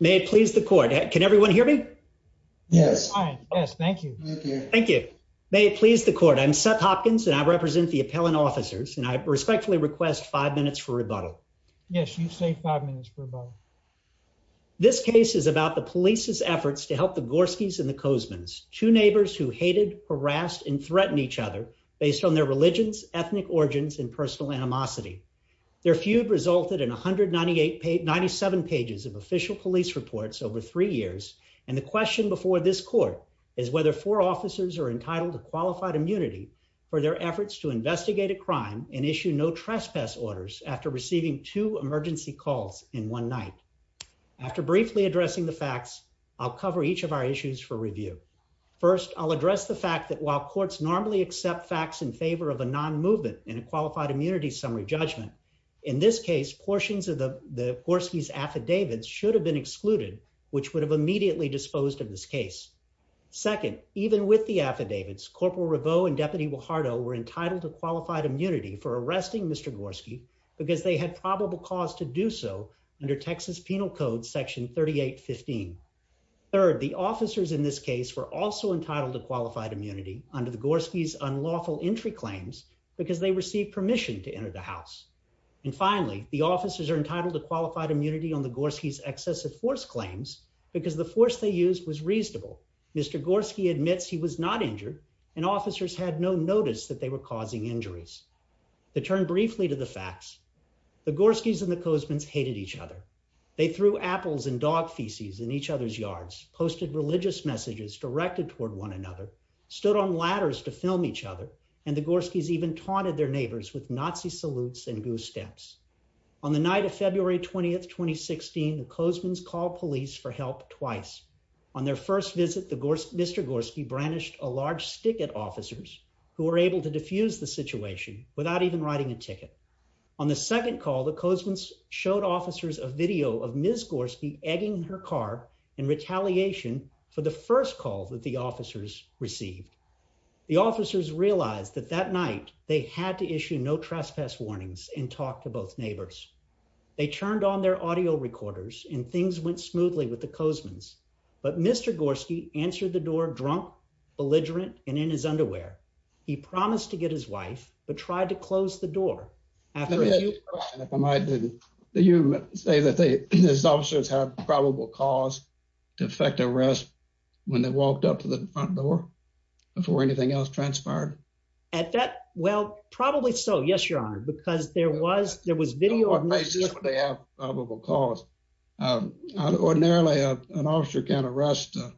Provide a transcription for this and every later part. May it please the court. Can everyone hear me? Yes. Thank you. Thank you. May it please the court. I'm Seth Hopkins and I represent the appellant officers and I respectfully request five minutes for rebuttal. Yes, you say five minutes for rebuttal. This case is about the police's efforts to help the Gorskys and the Kozmans, two neighbors who hated, harassed and threatened each other based on their religions, ethnic origins and personal animosity. Their feud resulted in 198 pages, 97 pages of official police reports over three years. And the question before this court is whether four officers are entitled to qualified immunity for their efforts to investigate a crime and issue no trespass orders after receiving two emergency calls in one night. After briefly addressing the facts, I'll cover each of our issues for review. First, I'll address the fact that while courts normally accept facts in favor of a non movement and a qualified immunity summary judgment, in this case, portions of the Gorsky's affidavits should have been excluded, which would have immediately disposed of this case. Second, even with the affidavits, Corporal Riveau and Deputy Guajardo were entitled to qualified immunity for arresting Mr Gorsky because they had probable cause to do so under Texas Penal Code Section 3815. Third, the officers in this case were also entitled to qualified immunity under the Gorsky's unlawful entry claims because they received permission to enter the house. And finally, the officers are entitled to qualified immunity on the Gorsky's excessive force claims because the force they used was reasonable. Mr Gorsky admits he was not injured and officers had no notice that they were causing injuries. To turn briefly to the facts, the Gorsky's and the Cozman's hated each other. They threw apples and dog feces in each other's yards, posted religious messages directed toward one another, stood on ladders to film each other and the Gorsky's even taunted their neighbors with Nazi salutes and goose steps. On the night of February 20th, 2016, the Cozman's called police for help twice. On their first visit, Mr Gorsky brandished a large stick at officers who were able to diffuse the situation without even writing a ticket. On the second call, the Cozman's showed officers a video of Ms Gorsky egging her car in retaliation for the first call that the officers received. The officers realized that that night they had to issue no trespass warnings and talk to both neighbors. They turned on their audio recorders and things went smoothly with the incident. Mr. Gorsky answered the door drunk, belligerent and in his underwear. He promised to get his wife but tried to close the door after a few questions. Did you say that these officers had probable cause to effect arrest when they walked up to the front door before anything else transpired? At that, well, probably so, yes, your honor, because there was, there was video of them. They have probable cause. Um, ordinarily an officer can arrest, uh,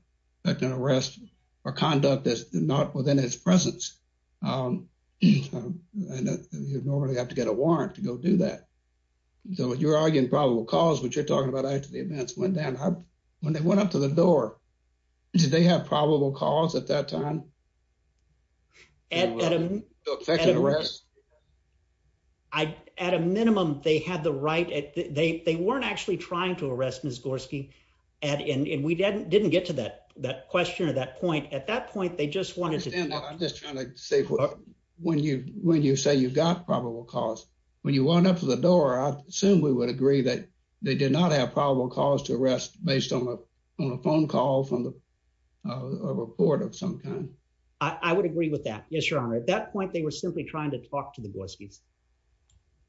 that can arrest for conduct that's not within his presence. Um, and you'd normally have to get a warrant to go do that. So when you're arguing probable cause, what you're talking about after the events went down, when they went up to the door, did they have probable cause at that time? At a minimum, they had the right, they weren't actually trying to arrest Ms. Gorsky and we didn't get to that, that question or that point. At that point, they just wanted to, I'm just trying to say when you, when you say you've got probable cause, when you walk up to the door, I assume we would agree that they did not have probable cause to arrest based on a, on a phone call from the, uh, report of some kind. I would agree with that. Yes, your honor. At that point, they were simply trying to talk to the Gorskys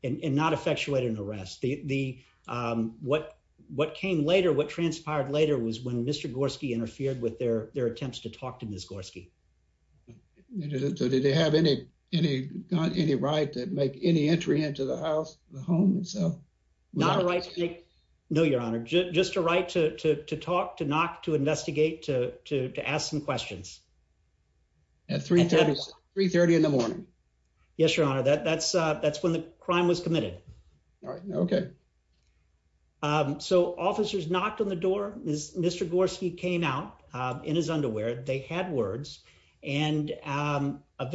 and not effectuate an arrest. The, um, what, what came later, what transpired later was when Mr. Gorsky interfered with their, their attempts to talk to Ms. Gorsky. So did they have any, any, any right to make any entry into the house, the home itself? Not a right to make, no, your honor, just, just a right to, to, to talk, to knock, to investigate, to, to, to ask some questions. At 3.30, 3.30 in the morning. Yes, your honor. That, that's, uh, that's when the crime was committed. All right. Okay. Um, so officers knocked on the door, Mr. Gorsky came out, um, in his underwear, they had words and, um, and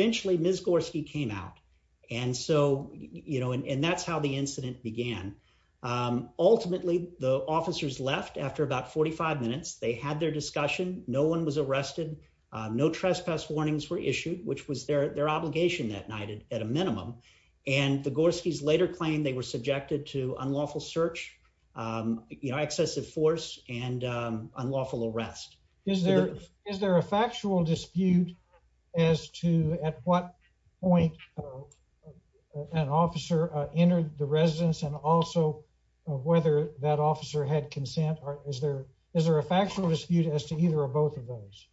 that's how the incident began. Um, ultimately the officers left after about 45 minutes, they had their discussion. No one was arrested. Uh, no trespass warnings were issued, which was their, their obligation that night at a minimum. And the Gorskys later claimed they were subjected to unlawful search, um, you know, excessive force and, um, unlawful arrest. Is there, is there a factual dispute as to at what point an officer entered the residence and also whether that officer had consent or is there, is there a factual dispute as to either or both of those?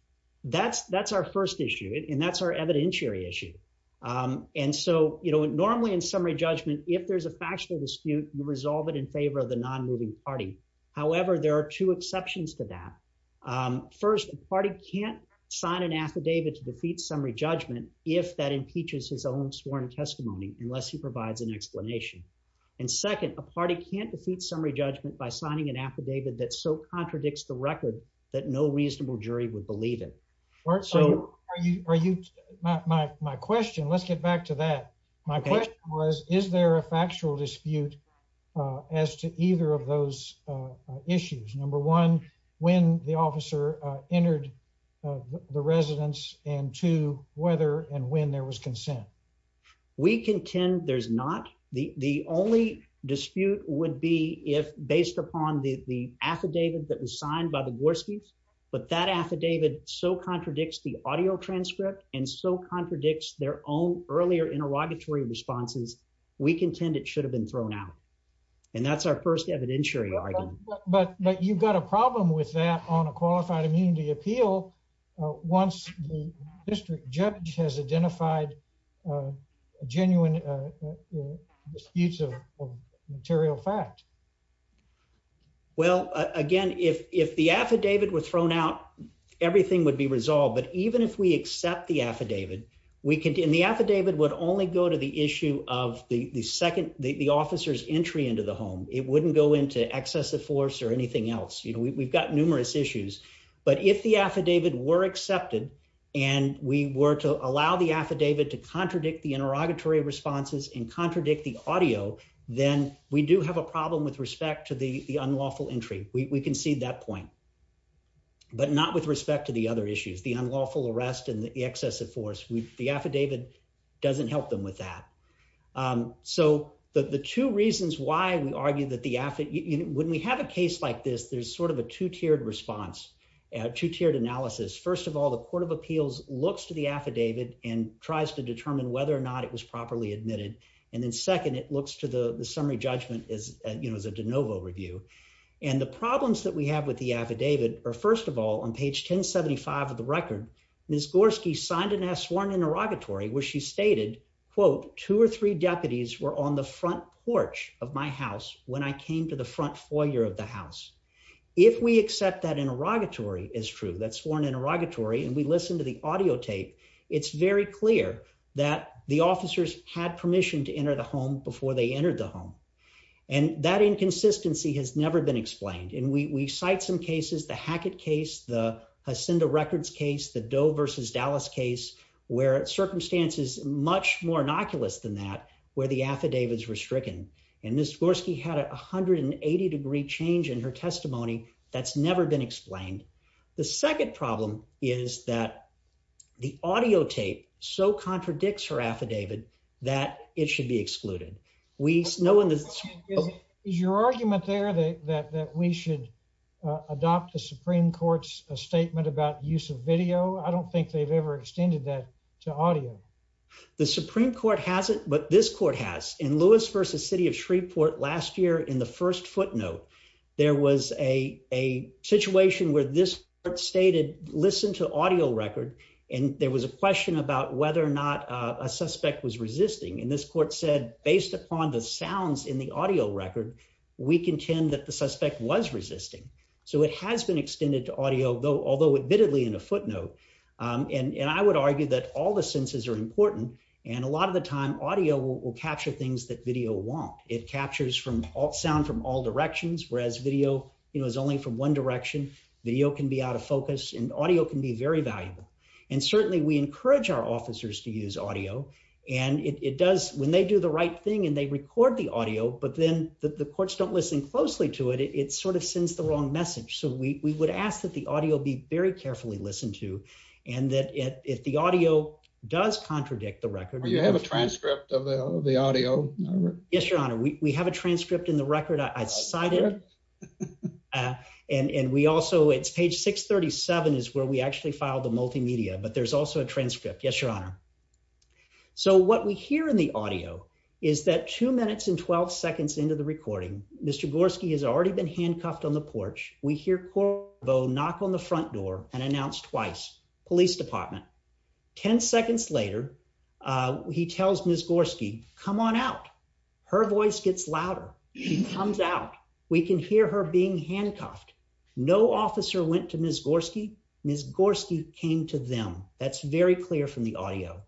That's, that's our first issue. And that's our evidentiary issue. Um, and so, you know, normally in summary judgment, if there's a factual dispute, you resolve it in favor of non-moving party. However, there are two exceptions to that. Um, first party can't sign an affidavit to defeat summary judgment, if that impeaches his own sworn testimony, unless he provides an explanation. And second, a party can't defeat summary judgment by signing an affidavit that so contradicts the record that no reasonable jury would believe it. Are you, my, my, my question, let's get back to that. My question was, is there a factual dispute as to either of those issues? Number one, when the officer entered the residence and two, whether and when there was consent. We contend there's not. The, the only dispute would be if based upon the, the affidavit that was signed by the Gorskys, but that affidavit so contradicts the audio transcript and so contradicts their own earlier interrogatory responses. We contend it should have been thrown out and that's our first evidentiary argument. But, but you've got a problem with that on a qualified immunity appeal. Once the district judge has identified a genuine disputes of material fact. Well, again, if, if the affidavit was thrown out, everything would be resolved. But even if we only go to the issue of the, the second, the, the officer's entry into the home, it wouldn't go into excessive force or anything else. We've got numerous issues, but if the affidavit were accepted and we were to allow the affidavit to contradict the interrogatory responses and contradict the audio, then we do have a problem with respect to the, the unlawful entry. We can see that point, but not with respect to the other issues, the unlawful arrest and the excessive force. We, the affidavit doesn't help them with that. So the, the two reasons why we argue that the affid, when we have a case like this, there's sort of a two tiered response, a two tiered analysis. First of all, the court of appeals looks to the affidavit and tries to determine whether or not it was properly admitted. And then second, it looks to the summary judgment is, you know, as a de novo review. And the problems that we have with the affidavit are first of all, on page 1075 of the record, Ms. Gorski signed and has sworn interrogatory where she stated, quote, two or three deputies were on the front porch of my house. When I came to the front foyer of the house, if we accept that interrogatory is true, that's sworn interrogatory. And we listened to the audio tape. It's very clear that the officers had permission to enter the home before they entered the home. And that inconsistency has never been explained. And we, we cite some cases, the Hackett case, the Hacinda records case, the Doe versus Dallas case, where circumstances much more innocuous than that, where the affidavits were stricken. And Ms. Gorski had a 180 degree change in her testimony. That's never been explained. The second problem is that the audio tape so no one is your argument there that we should adopt the Supreme Court's statement about use of video. I don't think they've ever extended that to audio. The Supreme Court hasn't, but this court has in Lewis versus city of Shreveport last year. In the first footnote, there was a situation where this part stated, listen to audio record. And there was a question about whether or not a suspect was in the audio record. We contend that the suspect was resisting. So it has been extended to audio though, although admittedly in a footnote and I would argue that all the senses are important. And a lot of the time audio will capture things that video won't. It captures from all sound from all directions, whereas video, you know, is only from one direction. Video can be out of focus and audio can be very valuable. And certainly we encourage our officers to use audio. And it does when they do the right thing and they record the audio, but then the courts don't listen closely to it. It sort of sends the wrong message. So we would ask that the audio be very carefully listened to. And that if the audio does contradict the record, you have a transcript of the audio. Yes, your honor. We have a transcript in the record. I cited it. And we also it's page 637 is where we actually filed the multimedia, but there's also a transcript. Yes, your honor. So what we hear in the audio is that two minutes and 12 seconds into the recording, Mr. Gorski has already been handcuffed on the porch. We hear Corvo knock on the front door and announce twice, police department. 10 seconds later, he tells Ms. Gorski, come on out. Her voice gets louder. She comes out. We can hear her being handcuffed. No officer went to Ms. Gorski. Ms. Gorski came to them. That's very clear from the audio.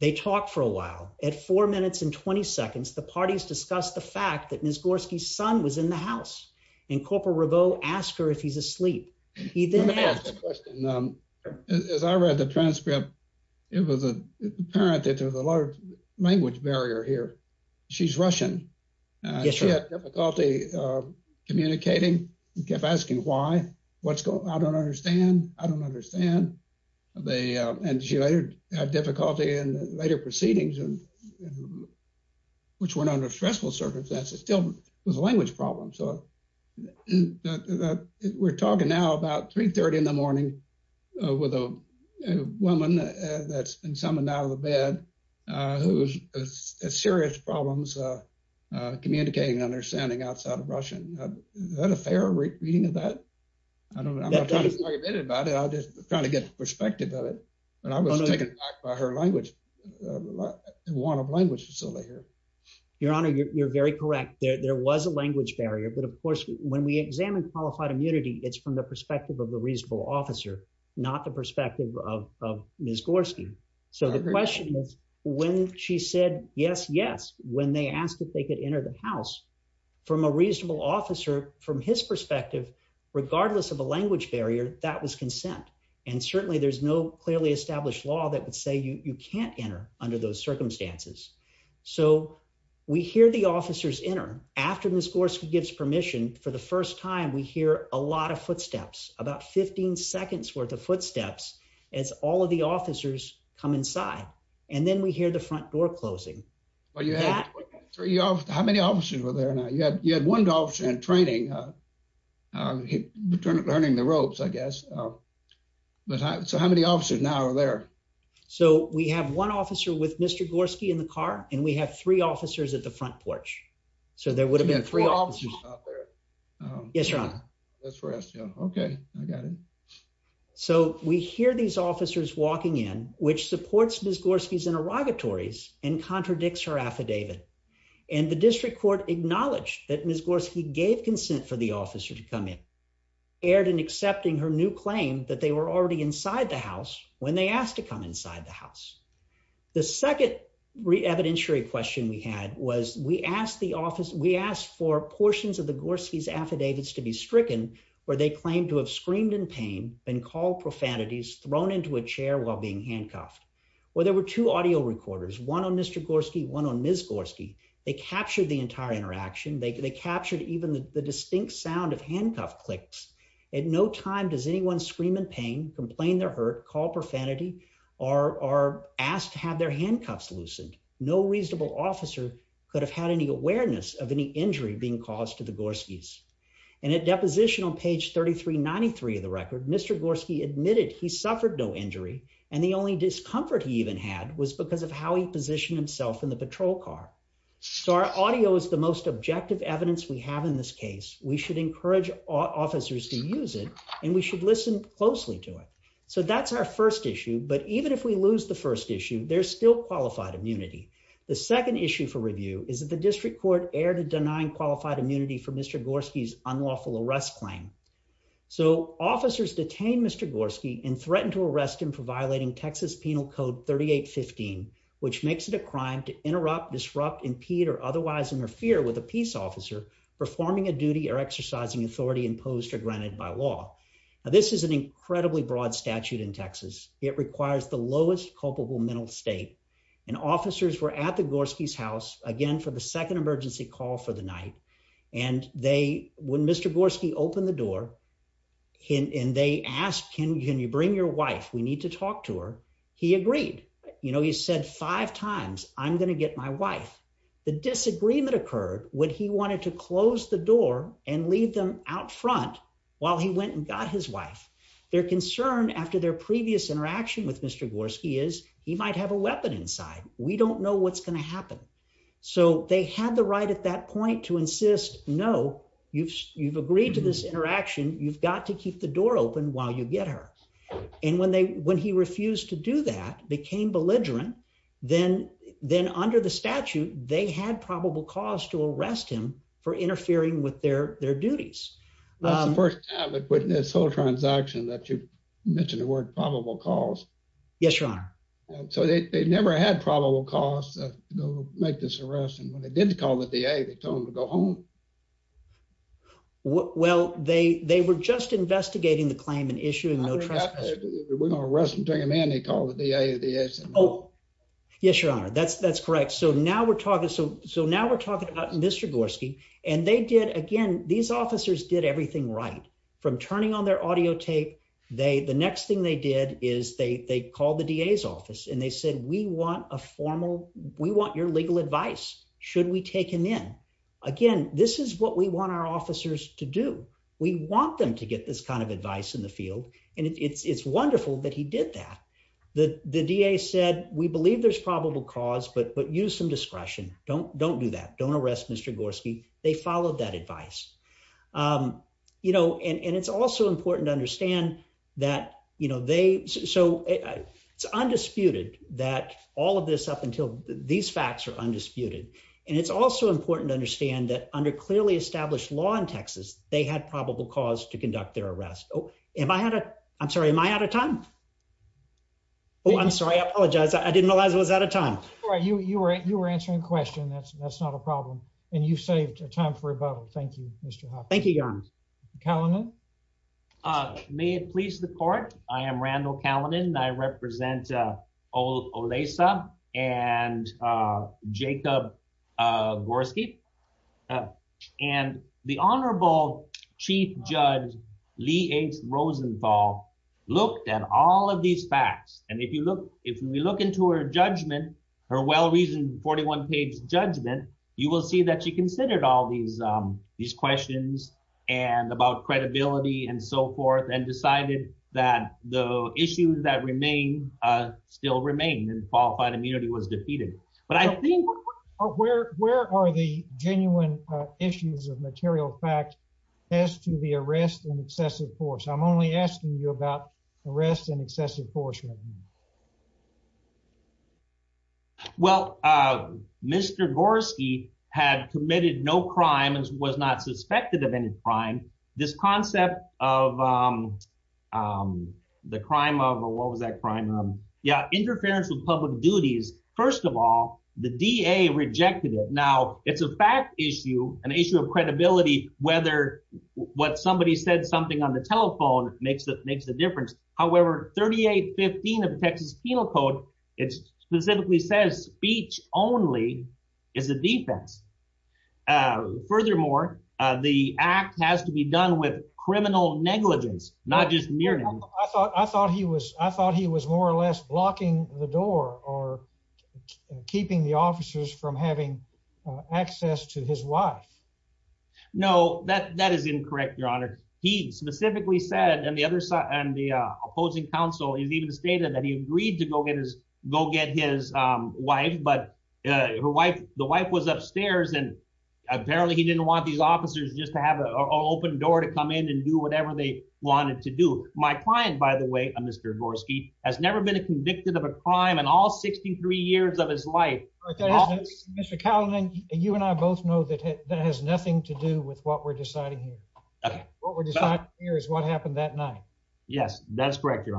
They talked for a while at four minutes and 20 seconds. The parties discussed the fact that Ms. Gorski's son was in the house and Corporal Reveaux asked her if he's asleep. He didn't ask the question. As I read the transcript, it was apparent that there was a large language barrier here. She's Russian. She had difficulty communicating, kept asking why, what's going on, I don't understand, I don't understand. And she later had difficulty in later proceedings, which were not under stressful circumstances, still was a language problem. So we're talking now about three-thirty in the morning with a woman that's been summoned out of the bed, who has serious problems communicating and understanding outside of Russian. Is that a fair reading of that? I don't know. I'm not trying to argue about it. I'm just trying to get a perspective of it. But I was taken aback by her language, one of language facility here. Your Honor, you're very correct. There was a language barrier. But of course, when we examine qualified immunity, it's from the perspective of a reasonable officer, not the perspective of Ms. Gorski. So the question is, when she said, yes, yes, when they asked if they could enter the house from a reasonable officer, from his perspective, regardless of a language barrier, that was consent. And certainly there's no clearly established law that would say you can't enter under those circumstances. So we hear the officers enter. After Ms. Gorski gives permission for the first time, we hear a lot of footsteps, about 15 seconds worth of footsteps as all of the officers come inside. And then we hear the front door closing. How many officers were there now? You had one officer in training, learning the ropes, I guess. But so how many officers now are there? So we have one officer with Mr. Gorski in the car and we have three officers at the front porch. So there would have been three officers out there. Yes, Your Honor. That's for us. Okay, I got it. So we hear these and contradicts her affidavit. And the district court acknowledged that Ms. Gorski gave consent for the officer to come in, erred in accepting her new claim that they were already inside the house when they asked to come inside the house. The second evidentiary question we had was we asked the office, we asked for portions of the Gorski's affidavits to be stricken where they claimed to have screamed in pain and call profanities thrown into a chair while being handcuffed. Well, there were two audio recorders, one on Mr. Gorski, one on Ms. Gorski. They captured the entire interaction. They captured even the distinct sound of handcuff clicks. At no time does anyone scream in pain, complain they're hurt, call profanity, or are asked to have their handcuffs loosened. No reasonable officer could have had any awareness of any injury being caused to the Gorski's. And at deposition on page 3393 of the record, Mr. Gorski admitted he suffered no injury, and the only discomfort he even had was because of how he positioned himself in the patrol car. So our audio is the most objective evidence we have in this case. We should encourage officers to use it, and we should listen closely to it. So that's our first issue. But even if we lose the first issue, there's still qualified immunity. The second issue for review is that the district court erred in denying qualified immunity for Mr. Gorski's unlawful arrest claim. So officers detained Mr. Gorski and threatened to arrest him for violating Texas Penal Code 3815, which makes it a crime to interrupt, disrupt, impede, or otherwise interfere with a peace officer performing a duty or exercising authority imposed or granted by law. Now this is an incredibly broad statute in Texas. It requires the lowest culpable mental state. And officers were at the Gorski's house again for the second emergency call for the night. And they, when Mr. Gorski opened the door and they asked, can you bring your wife? We need to talk to her. He agreed. You know, he said five times, I'm going to get my wife. The disagreement occurred when he wanted to close the door and leave them out front while he went and got his wife. Their concern after their previous interaction with Mr. Gorski is he might have a weapon inside. We don't know what's going to happen. So he took the right at that point to insist, no, you've, you've agreed to this interaction. You've got to keep the door open while you get her. And when they, when he refused to do that, became belligerent, then, then under the statute, they had probable cause to arrest him for interfering with their, their duties. That's the first time I've witnessed this whole transaction that you mentioned the word probable cause. Yes, your honor. So they never had probable cause to go make this arrest. And when they did call the DA, they told him to go home. Well, they, they were just investigating the claim and issuing no trespassing. We're going to arrest him, bring him in. They called the DA. Yes, your honor. That's, that's correct. So now we're talking. So, so now we're talking about Mr. Gorski and they did, again, these officers did everything right from turning on their audio tape. They, the next thing they did is they, they called the DA's office and they said, we want a formal, we want your legal advice. Should we take him in? Again, this is what we want our officers to do. We want them to get this kind of advice in the field. And it's, it's wonderful that he did that. The, the DA said, we believe there's probable cause, but, but use some discretion. Don't, don't do that. Don't arrest Mr. Gorski. They followed that advice. You know, and, and it's also important to understand that, you know, they, so it's undisputed that all of this up until these facts are undisputed. And it's also important to understand that under clearly established law in Texas, they had probable cause to conduct their arrest. Oh, am I had a, I'm sorry, am I out of time? Oh, I'm sorry. I apologize. I didn't realize I was out of time. All right. You, you were, you were answering the question. That's, that's not a problem. And you saved a time for rebuttal. Thank you, Mr. Hoffman. Thank you, your honor. Kalanen. May it please the court. I am Randall Kalanen and I represent Olesa and Jacob Gorski. And the honorable chief judge Lee H. Rosenthal looked at all of these facts. And if you look, if we look into her judgment, her well-reasoned 41 page judgment, you will see that she considered all these these questions and about credibility and so forth and decided that the issues that remain still remain and qualified immunity was defeated. But I think. Where are the genuine issues of material fact as to the arrest and excessive force? I'm only asking you about arrest and excessive force. Well, Mr. Gorski had committed no crimes, was not suspected of any crime. This concept of the crime of what was that crime? Yeah. Interference with public duties. First of all, the DA rejected it. Now it's a fact issue, an issue of credibility, whether what somebody said something on the telephone makes that makes the difference. However, 3815 of the Texas Penal Code, it specifically says speech only is a defense. Furthermore, the act has to be done with criminal negligence, not just mere. I thought I thought he was I thought he was more or less blocking the door or keeping the officers from having access to his wife. No, that that is incorrect, Your Honor. He specifically said and the other side and the opposing counsel, he's even stated that he agreed to go get his go get his wife. But her wife, the wife was upstairs and apparently he didn't want these officers just to have an open door to come in and do whatever they wanted to do. My client, by the way, Mr. Gorski, has never been convicted of a crime in all 63 years of his life. Mr. Calhoun, you and I both know that that has nothing to do with what we're deciding here. What we're deciding here is what happened that night. Yes, that's correct, Your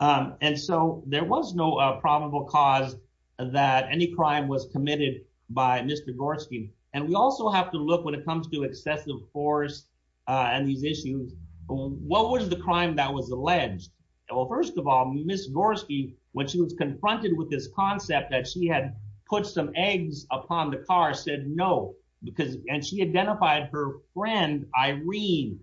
Honor. And so there was no probable cause that any crime was committed by Mr. Gorski. And we also have to look when it comes to excessive force on these issues. What was the crime that was alleged? Well, first of all, Miss Gorski, when she was confronted with this concept that she had put some eggs upon the car, said no, because and she identified her friend, Irene.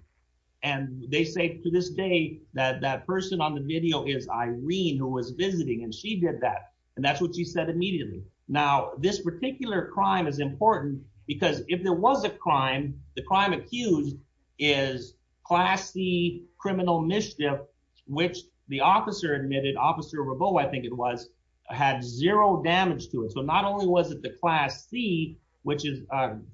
And they say to this day that that person on the video is Irene, who was visiting and she did that. And that's what she said immediately. Now, this particular crime is important because if there was a crime, the crime accused is class C criminal mischief, which the officer admitted, Officer Rabot, I think it had zero damage to it. So not only was it the class C, which is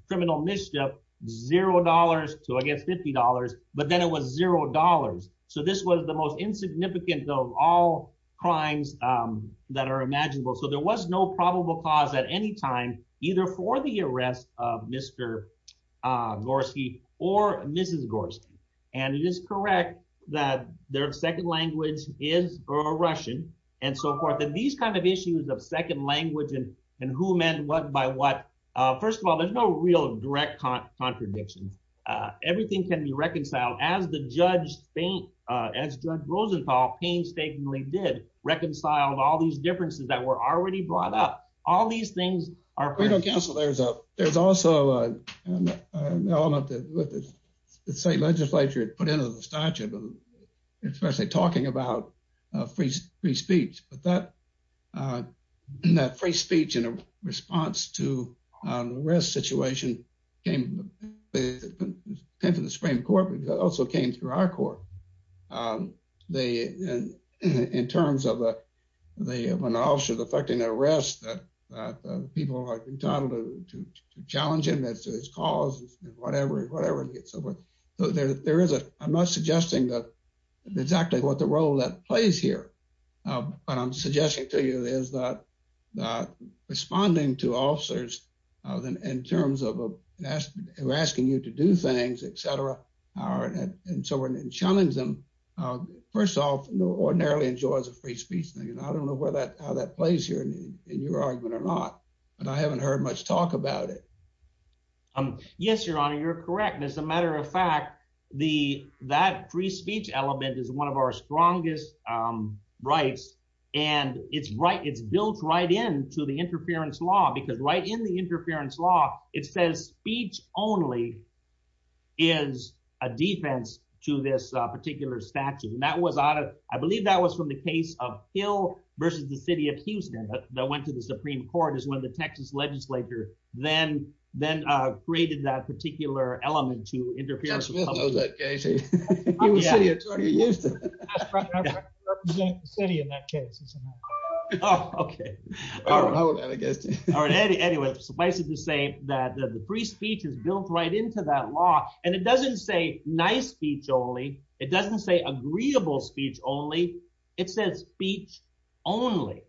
criminal mischief, zero dollars to against $50, but then it was zero dollars. So this was the most insignificant of all crimes that are imaginable. So there was no probable cause at any time, either for the arrest of Mr. Gorski or Mrs. Gorski. And it is correct that their second language is Russian, and so forth. And these kind of issues of second language and and who meant what by what? First of all, there's no real direct contradictions. Everything can be reconciled as the judge think, as Judge Rosenthal painstakingly did reconcile all these differences that were already brought up. All these things are critical counsel. There's a there's also an element that the state legislature put into the statute, especially talking about free speech. But that free speech in response to the arrest situation came to the Supreme Court, but it also came through our court. In terms of when an officer is effecting an arrest that people are entitled to challenge his cause, whatever, whatever it gets over. So there is a I'm not suggesting that exactly what the role that plays here, but I'm suggesting to you is that not responding to officers in terms of asking you to do things, etc. And so we're going to challenge them. First off, ordinarily enjoys a free speech thing. And I don't know where that how that plays here in your argument or not, but I haven't heard much talk about it. Yes, Your Honor, you're correct. As a matter of fact, the that free speech element is one of our strongest rights. And it's right. It's built right in to the interference law, because right in the interference law, it says speech only is a defense to this particular statute. And that was out of I believe that was from the case of Hill versus the city of Houston that went to the Supreme Court is when the Texas legislature then then created that particular element to interfere. Anyway, suffice it to say that the free speech is built right into that law. And it doesn't say nice speech only. It doesn't say agreeable speech only. It says speech only.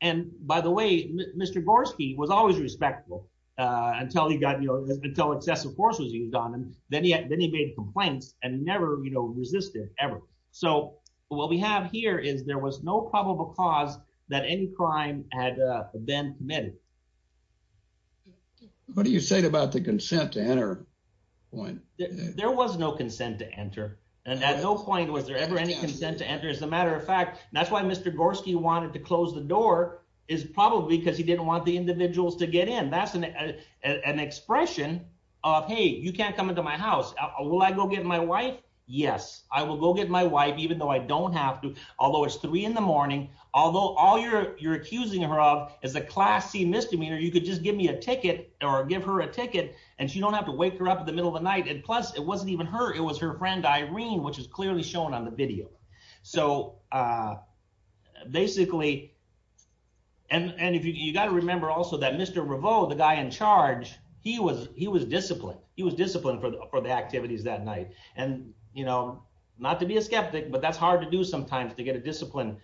And by the way, Mr. Gorski was always respectful until he got, you know, until excessive force was used on him. Then he then he made complaints and never, you know, resisted ever. So what we have here is there was no probable cause that any crime had been committed. What do you say about the consent to enter point? There was no consent to enter. And at no point was there ever any consent to enter. As a matter of fact, that's why Mr. Gorski wanted to close the door is probably because he didn't want the individuals to get in. That's an expression of Hey, you can't come into my house. Will I go get my wife? Yes, I will go get my wife even though I don't have to. Although it's three in the morning. Although all you're you're accusing her of is a class C misdemeanor, you could just give me a ticket or give her a ticket and she don't have to wake her up in the middle of the night. And plus, it wasn't even her. It was her friend, Irene, which is clearly shown on the video. So basically, and if you got to remember also that Mr. Revo, the guy in charge, he was he was disciplined. He was disciplined for the activities that night. And, you know, not to be a skeptic, but that's hard to do sometimes to get a discipline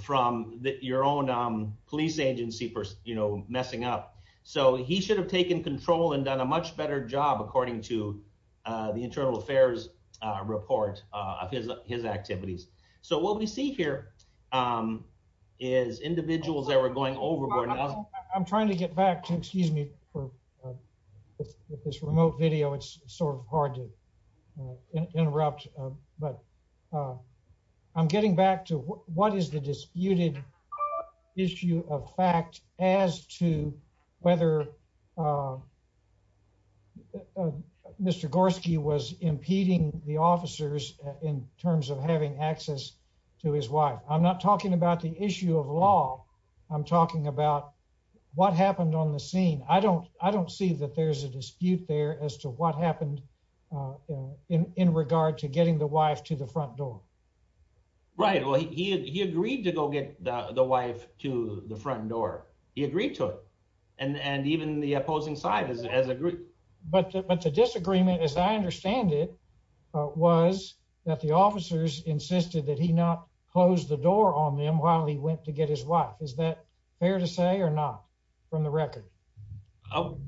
from your own police agency for, you know, messing up. So he should have taken control and done a much better job, according to the Internal Affairs report of his his activities. So what we see here is individuals that were going overboard. I'm trying to get back to excuse me for this remote video. It's sort of hard to interrupt. But I'm getting back to what is the disputed issue of fact as to whether Mr. Gorski was impeding the officers in terms of having access to his wife. I'm not talking about the issue of law. I'm talking about what happened on the scene. I don't I don't see that there's a dispute there as to what happened in regard to getting the wife to the front door. Right. Well, he agreed to go get the wife to the front door. He agreed to it. And even the opposing side has agreed. But the disagreement, as I understand it, was that the officers insisted that he not close the door on them while he went to get his wife. Is that fair to say or not, from the record? Oh,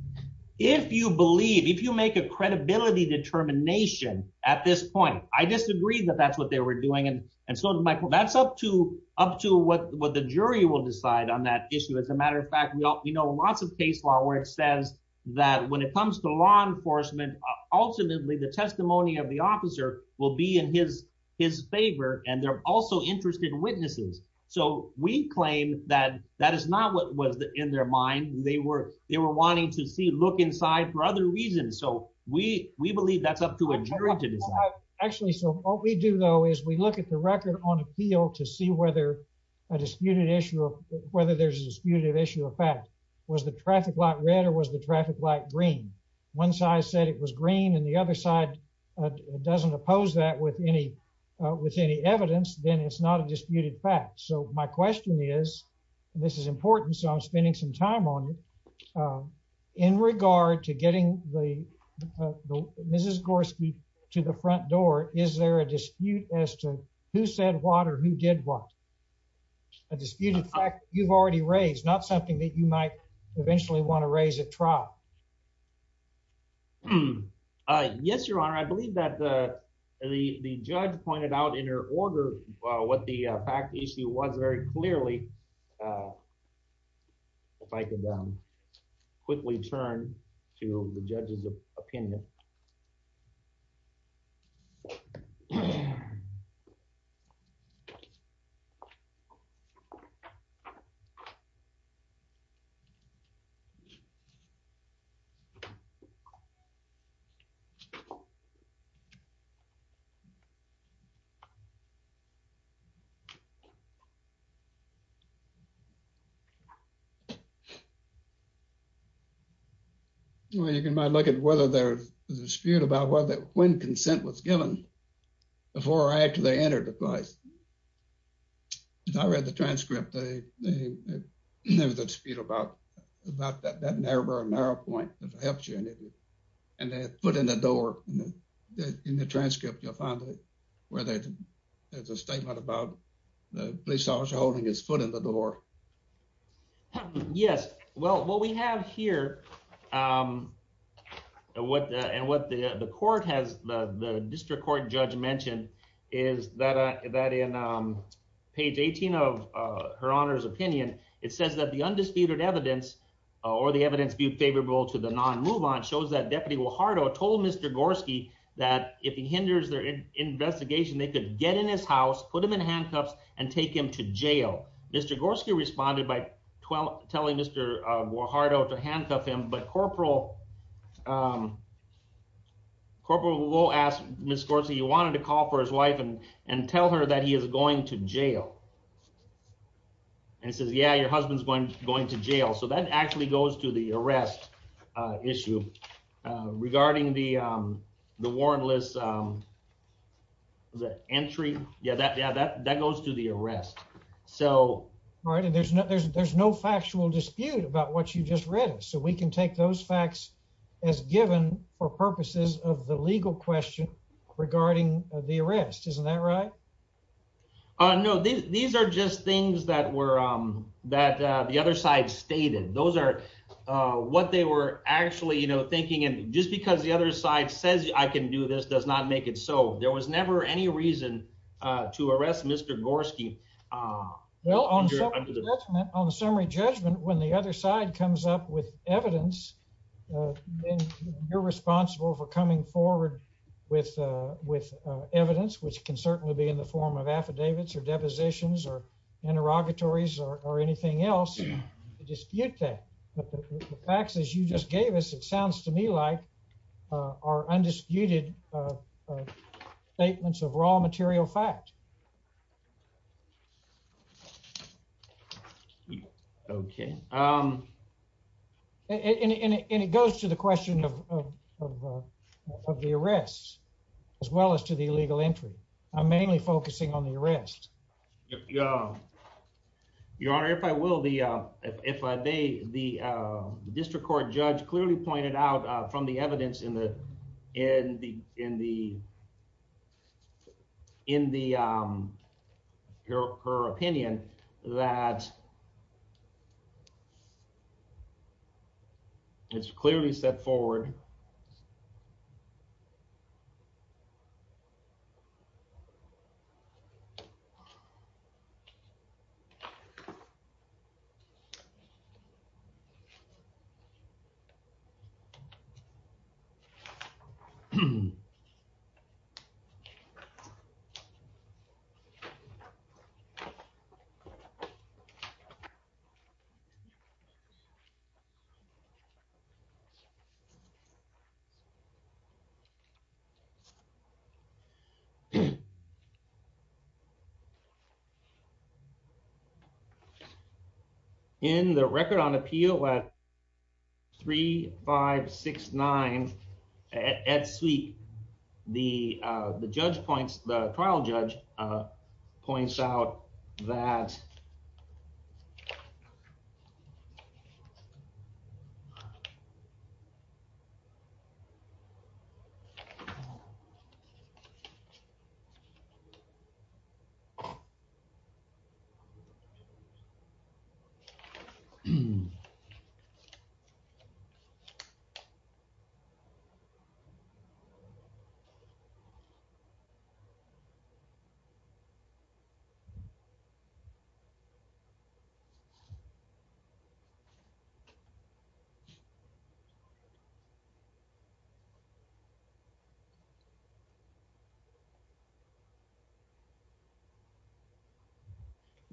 if you believe if you make a credibility determination at this point, I disagree that that's what they were doing. And so, Michael, that's up to up to what what the jury will decide on that issue. As a matter of fact, you know, lots of case law where it says that when it comes to law enforcement, ultimately, the testimony of the officer will be in his his favor. And they're also interested witnesses. So we claim that that is not what was in their mind. They were they were wanting to see look inside for other reasons. So we we believe that's up to a jury to decide. Actually, so what we do, though, is we look at the record on appeal to see whether a disputed issue of whether there's a disputed issue of fact, was the traffic light red or was the traffic light green? One side said it was green and the other side doesn't oppose that with any with any evidence, then it's not a disputed fact. So my question is, and this is important, so I'm spending some time on in regard to getting the Mrs. Gorski to the front door. Is there a dispute as to who said what or who did what? A disputed fact you've already raised, not something that you might eventually want to raise at trial? Yes, Your Honor, I believe that the fact issue was very clearly. If I could quickly turn to the judge's opinion. Well, you can look at whether there's a dispute about whether when consent was given before or after they entered the place. I read the transcript. There's a dispute about that narrow point that helps you and they put in the door in the transcript. You'll find where there's a statement about the police officer holding his foot in the door. Yes, well, what we have here and what the court has, the district court judge mentioned is that in page 18 of Her Honor's opinion, it says that the undisputed evidence or the evidence viewed favorable to the non-move on shows that Deputy Guajardo told Mr. Gorski that if he hinders investigation, they could get in his house, put him in handcuffs and take him to jail. Mr. Gorski responded by telling Mr. Guajardo to handcuff him, but Corporal Lowe asked Ms. Gorski, he wanted to call for his wife and tell her that he is going to jail. And he says, yeah, your husband's going to jail. So that actually goes to the arrest issue regarding the warrantless entry. Yeah, that goes to the arrest. All right. And there's no factual dispute about what you just read. So we can take those facts as given for purposes of the legal question regarding the arrest. Isn't that right? Oh, no, these are just things that were that the other side stated. Those are what they were actually thinking. And just because the other side says I can do this does not make it so. There was never any reason to arrest Mr. Gorski. Well, on the summary judgment, when the other side comes up with evidence, you're responsible for coming forward with evidence, which can certainly be in the form of affidavits or depositions or interrogatories or anything else to dispute that. But the facts, as you just gave us, it sounds to me like are undisputed statements of raw material fact. OK. And it goes to the question of the arrests as well as to the illegal entry. I'm mainly focusing on the arrest. Your Honor, if I will, the if I may, the district court judge clearly pointed out from the evidence in the in the in the in the her opinion that. It's clearly set forward. And. Thank you. In the record on appeal at three, five, six, nine at suite. The judge points, the trial judge points out that.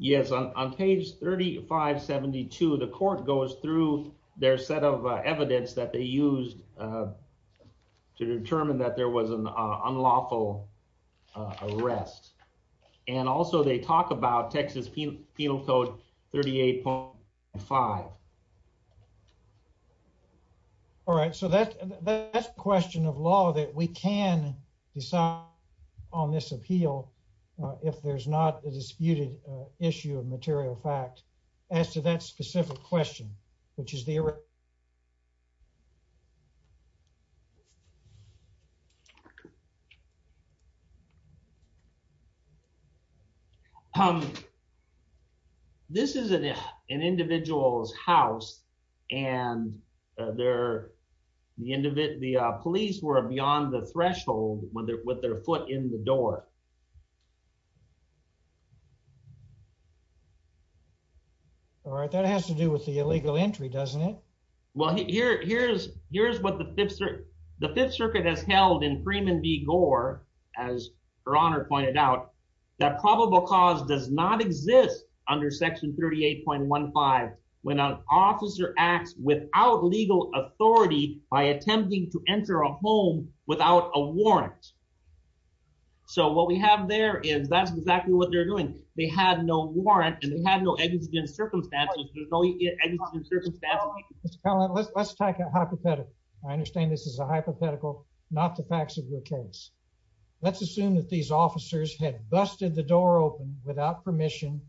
Yes, on page 3572, the court goes through their set of evidence that they used to determine that there was an unlawful arrest. And also they talk about Texas penal code 38.5. All right, so that's a question of law that we can decide on this appeal if there's not a disputed issue of material fact as to that specific question, which is the. This is an individual's house and they're the end of it. The police were beyond the threshold when they're with their foot in the door. All right, that has to do with the illegal entry, doesn't it? Well, here here's here's what the fifth the Fifth Circuit has held in Freeman v. Gore, as her honor pointed out, that probable cause does not exist under section 38.15. When an officer acts without legal authority by attempting to enter a home without a warrant. So what we have there is that's exactly what they're doing. They had no warrant and they had no evidence in circumstances. Let's take a hypothetical. I understand this is a hypothetical, not the facts of your case. Let's assume that these officers had busted the door open without permission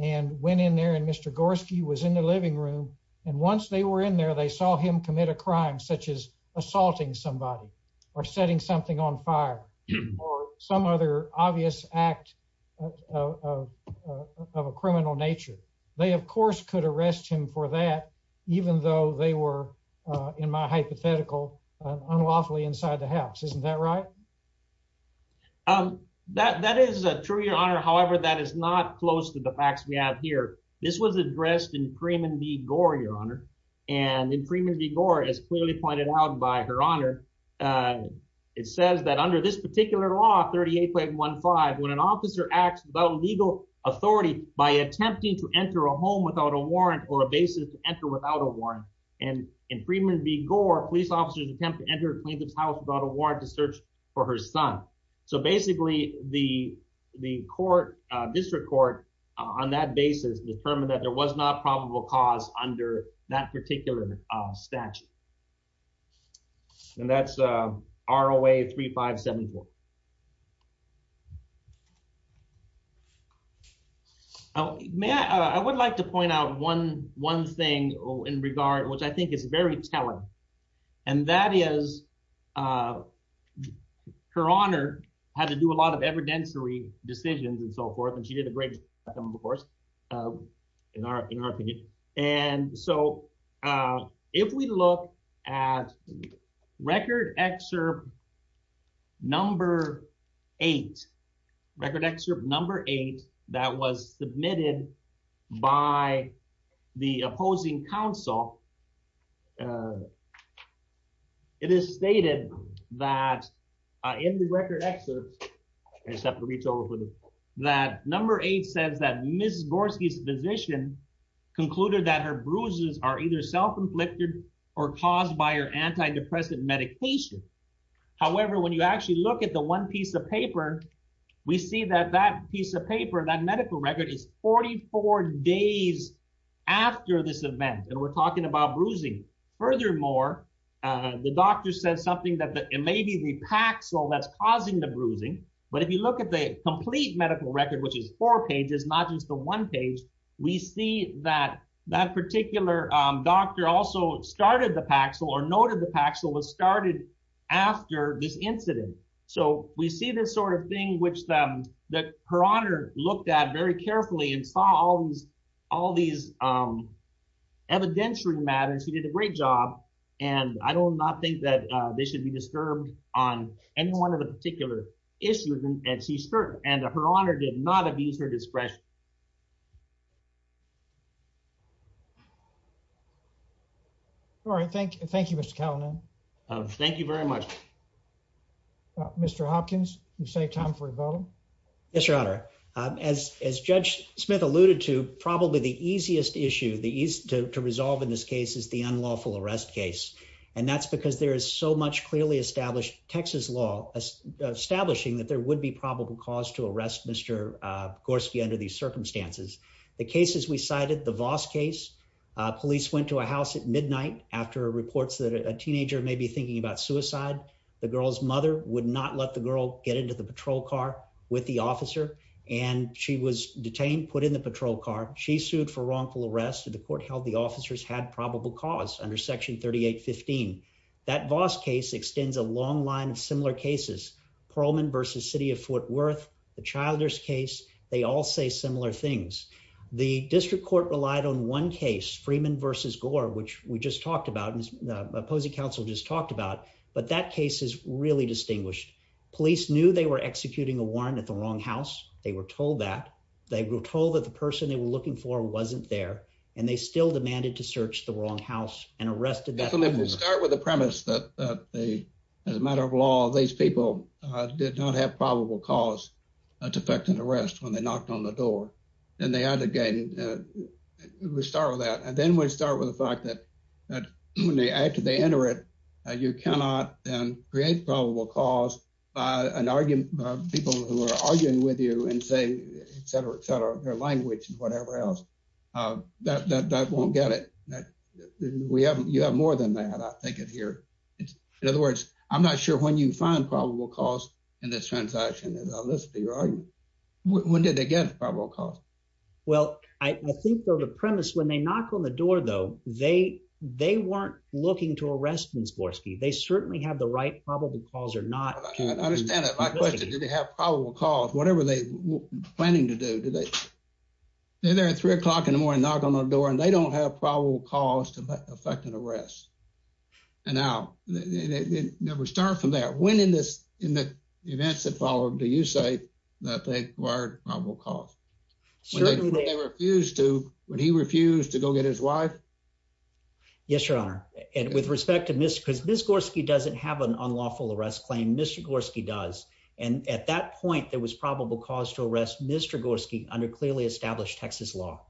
and went in there and Mr. Gorski was in the living room. And once they were in there, they saw him commit a crime such as assaulting somebody or setting something on fire or some other obvious act of a criminal nature. They, of course, could arrest him for that, even though they were in my hypothetical unlawfully inside the house, isn't that right? That that is true, your honor. However, that is not close to the facts we have here. This was addressed in Freeman v. Gore, your honor. And in Freeman v. Gore, as clearly pointed out by her honor, it says that under this particular law, 38.15, when an officer acts without legal authority by attempting to enter a home without a warrant or a basis to enter without a warrant. And in Freeman v. Gore, police officers attempt to enter a plaintiff's house without a warrant to search for her son. So basically the court, district court, on that basis determined that there was not probable cause under that particular statute. And that's ROA 3574. I would like to point out one thing in regard, which I think is very telling. And that is, her honor had to do a lot of evidentiary decisions and so forth. And she did a great job, of course, in our opinion. And so if we look at record excerpt number eight, record excerpt number eight, that was It is stated that in the record excerpt, I just have to reach over for the, that number eight says that Ms. Gorski's physician concluded that her bruises are either self-inflicted or caused by her antidepressant medication. However, when you actually look at the one piece of paper, we see that that piece of paper, that medical record is 44 days after this event. And we're talking about bruising. Furthermore, the doctor said something that it may be the Paxil that's causing the bruising. But if you look at the complete medical record, which is four pages, not just the one page, we see that that particular doctor also started the Paxil or noted the Paxil was started after this incident. So we see this sort of thing, which the her honor looked at very carefully and saw all these evidentiary matters. She did a great job. And I do not think that they should be disturbed on any one of the particular issues. And she's certain and her honor did not abuse her discretion. All right, thank you. Thank you, Mr. Thank you very much. Mr. Hopkins, you save time for rebuttal. Yes, your honor. As Judge Smith alluded to, probably the easiest issue to resolve in this case is the unlawful arrest case. And that's because there is so much clearly established Texas law establishing that there would be probable cause to arrest Mr. Gorski under these circumstances. The cases we cited, the Voss case, police went to a house at midnight after reports that a teenager may be thinking about suicide. The girl's mother would not let the girl get into the patrol car with the officer, and she was detained, put in the patrol car. She sued for wrongful arrest. The court held the officers had probable cause under Section 3815. That Voss case extends a long line of similar cases. Pearlman versus city of Fort Worth, the Childers case. They all say similar things. The district court relied on one case, Freeman versus Gore, which we just talked about and the opposing counsel just talked about. But that case is really distinguished. Police knew they were executing a warrant at the wrong house. They were told that. They were told that the person they were looking for wasn't there. And they still demanded to search the wrong house and arrested. Definitely. We'll start with the premise that they, as a matter of law, these people did not have probable cause to effect an arrest when they knocked on the door and they enter it. You cannot create probable cause by an argument, by people who are arguing with you and say, et cetera, et cetera, their language and whatever else that won't get it. You have more than that, I think of here. In other words, I'm not sure when you find probable cause in this transaction, as I listed your argument. When did they get probable cause? Well, I think the premise when they knock on the door, though, they they weren't looking to arrest Ms. Gorski. They certainly have the right probable cause or not. I understand that. My question is, did they have probable cause? Whatever they were planning to do, did they? They're there at three o'clock in the morning, knock on the door and they don't have probable cause to effect an arrest. And now we start from there. When in this, in the events that followed, do you say that they required probable cause? Certainly they refused to when he refused to go get his wife. Yes, your honor. And with respect to this, because this Gorski doesn't have an unlawful arrest claim, Mr. Gorski does. And at that point, there was probable cause to arrest Mr. Gorski under clearly established Texas law.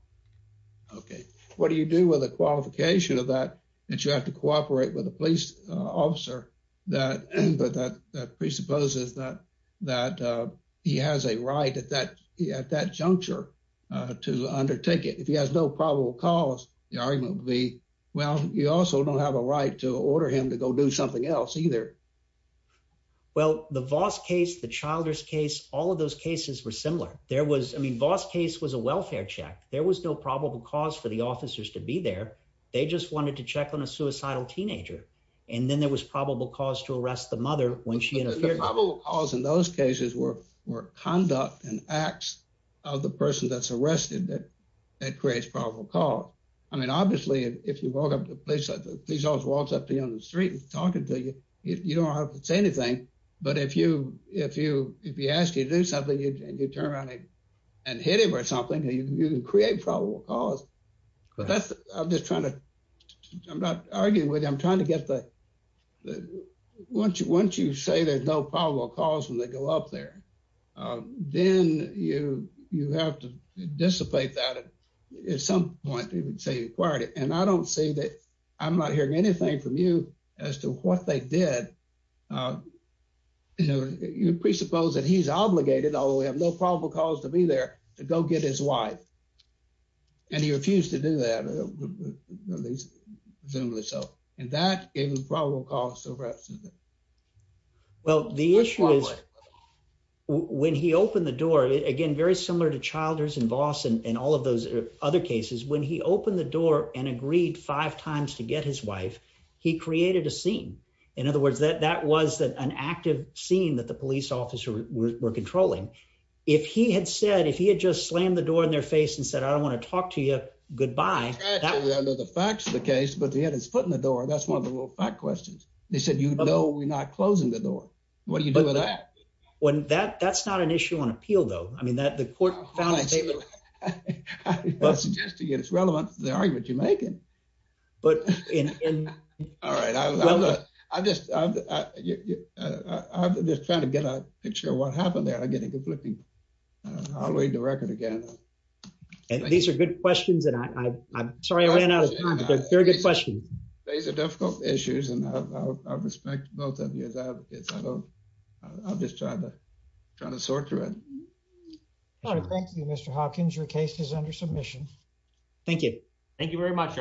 OK, what do you do with the qualification of that that you have to cooperate with a police officer that that presupposes that that he has a right at that at that juncture to undertake it? If he has no probable cause, the argument would be, well, you also don't have a right to order him to go do something else either. Well, the Voss case, the Childers case, all of those cases were similar. There was I mean, Voss case was a welfare check. There was no probable cause for the officers to be there. They just wanted to check on a suicidal teenager. And then there was probable cause to arrest the mother when she probably calls in those cases were were conduct and acts of the person that's arrested that that creates probable cause. I mean, obviously, if you walk up to a place like the police officer walks up to you on the street and talking to you, you don't have to say anything. But if you if you if you ask you to do something and you turn around and hit him or something, you can create probable cause. I'm just trying to I'm not arguing with you. I'm trying to get the once you once you say there's no probable cause when they go up there, then you you have to dissipate that at some point. You would say you acquired it. And I don't say that I'm not hearing anything from you as to what they did. You know, you presuppose that he's obligated, although we have no probable cause to be there, to go get his wife. And he refused to do that, at least presumably so, and that is probable cause of arrest. Well, the issue is when he opened the door again, very similar to Childers and Voss and all of those other cases, when he opened the door and agreed five times to get his wife, he created a scene. In other words, that that was an active scene that the police officer were controlling. If he had said if he had just slammed the door in their face and said, I don't want to talk to you, goodbye. The facts of the case. But he had his foot in the door. That's one of the little fact questions. They said, you know, we're not closing the door. What do you do with that? When that that's not an issue on appeal, though. I mean, that the court found a statement that's relevant to the argument you're making. But in all right, I just I'm just trying to get a picture of what happened there. I get a conflicting. I'll read the record again. And these are good questions. And I'm sorry I ran out of very good questions. These are difficult issues. And I respect both of you as advocates. I don't. I'll just try to try to sort through it. Thank you, Mr. Hawkins. Your case is under submission. Thank you. Thank you very much. Honors.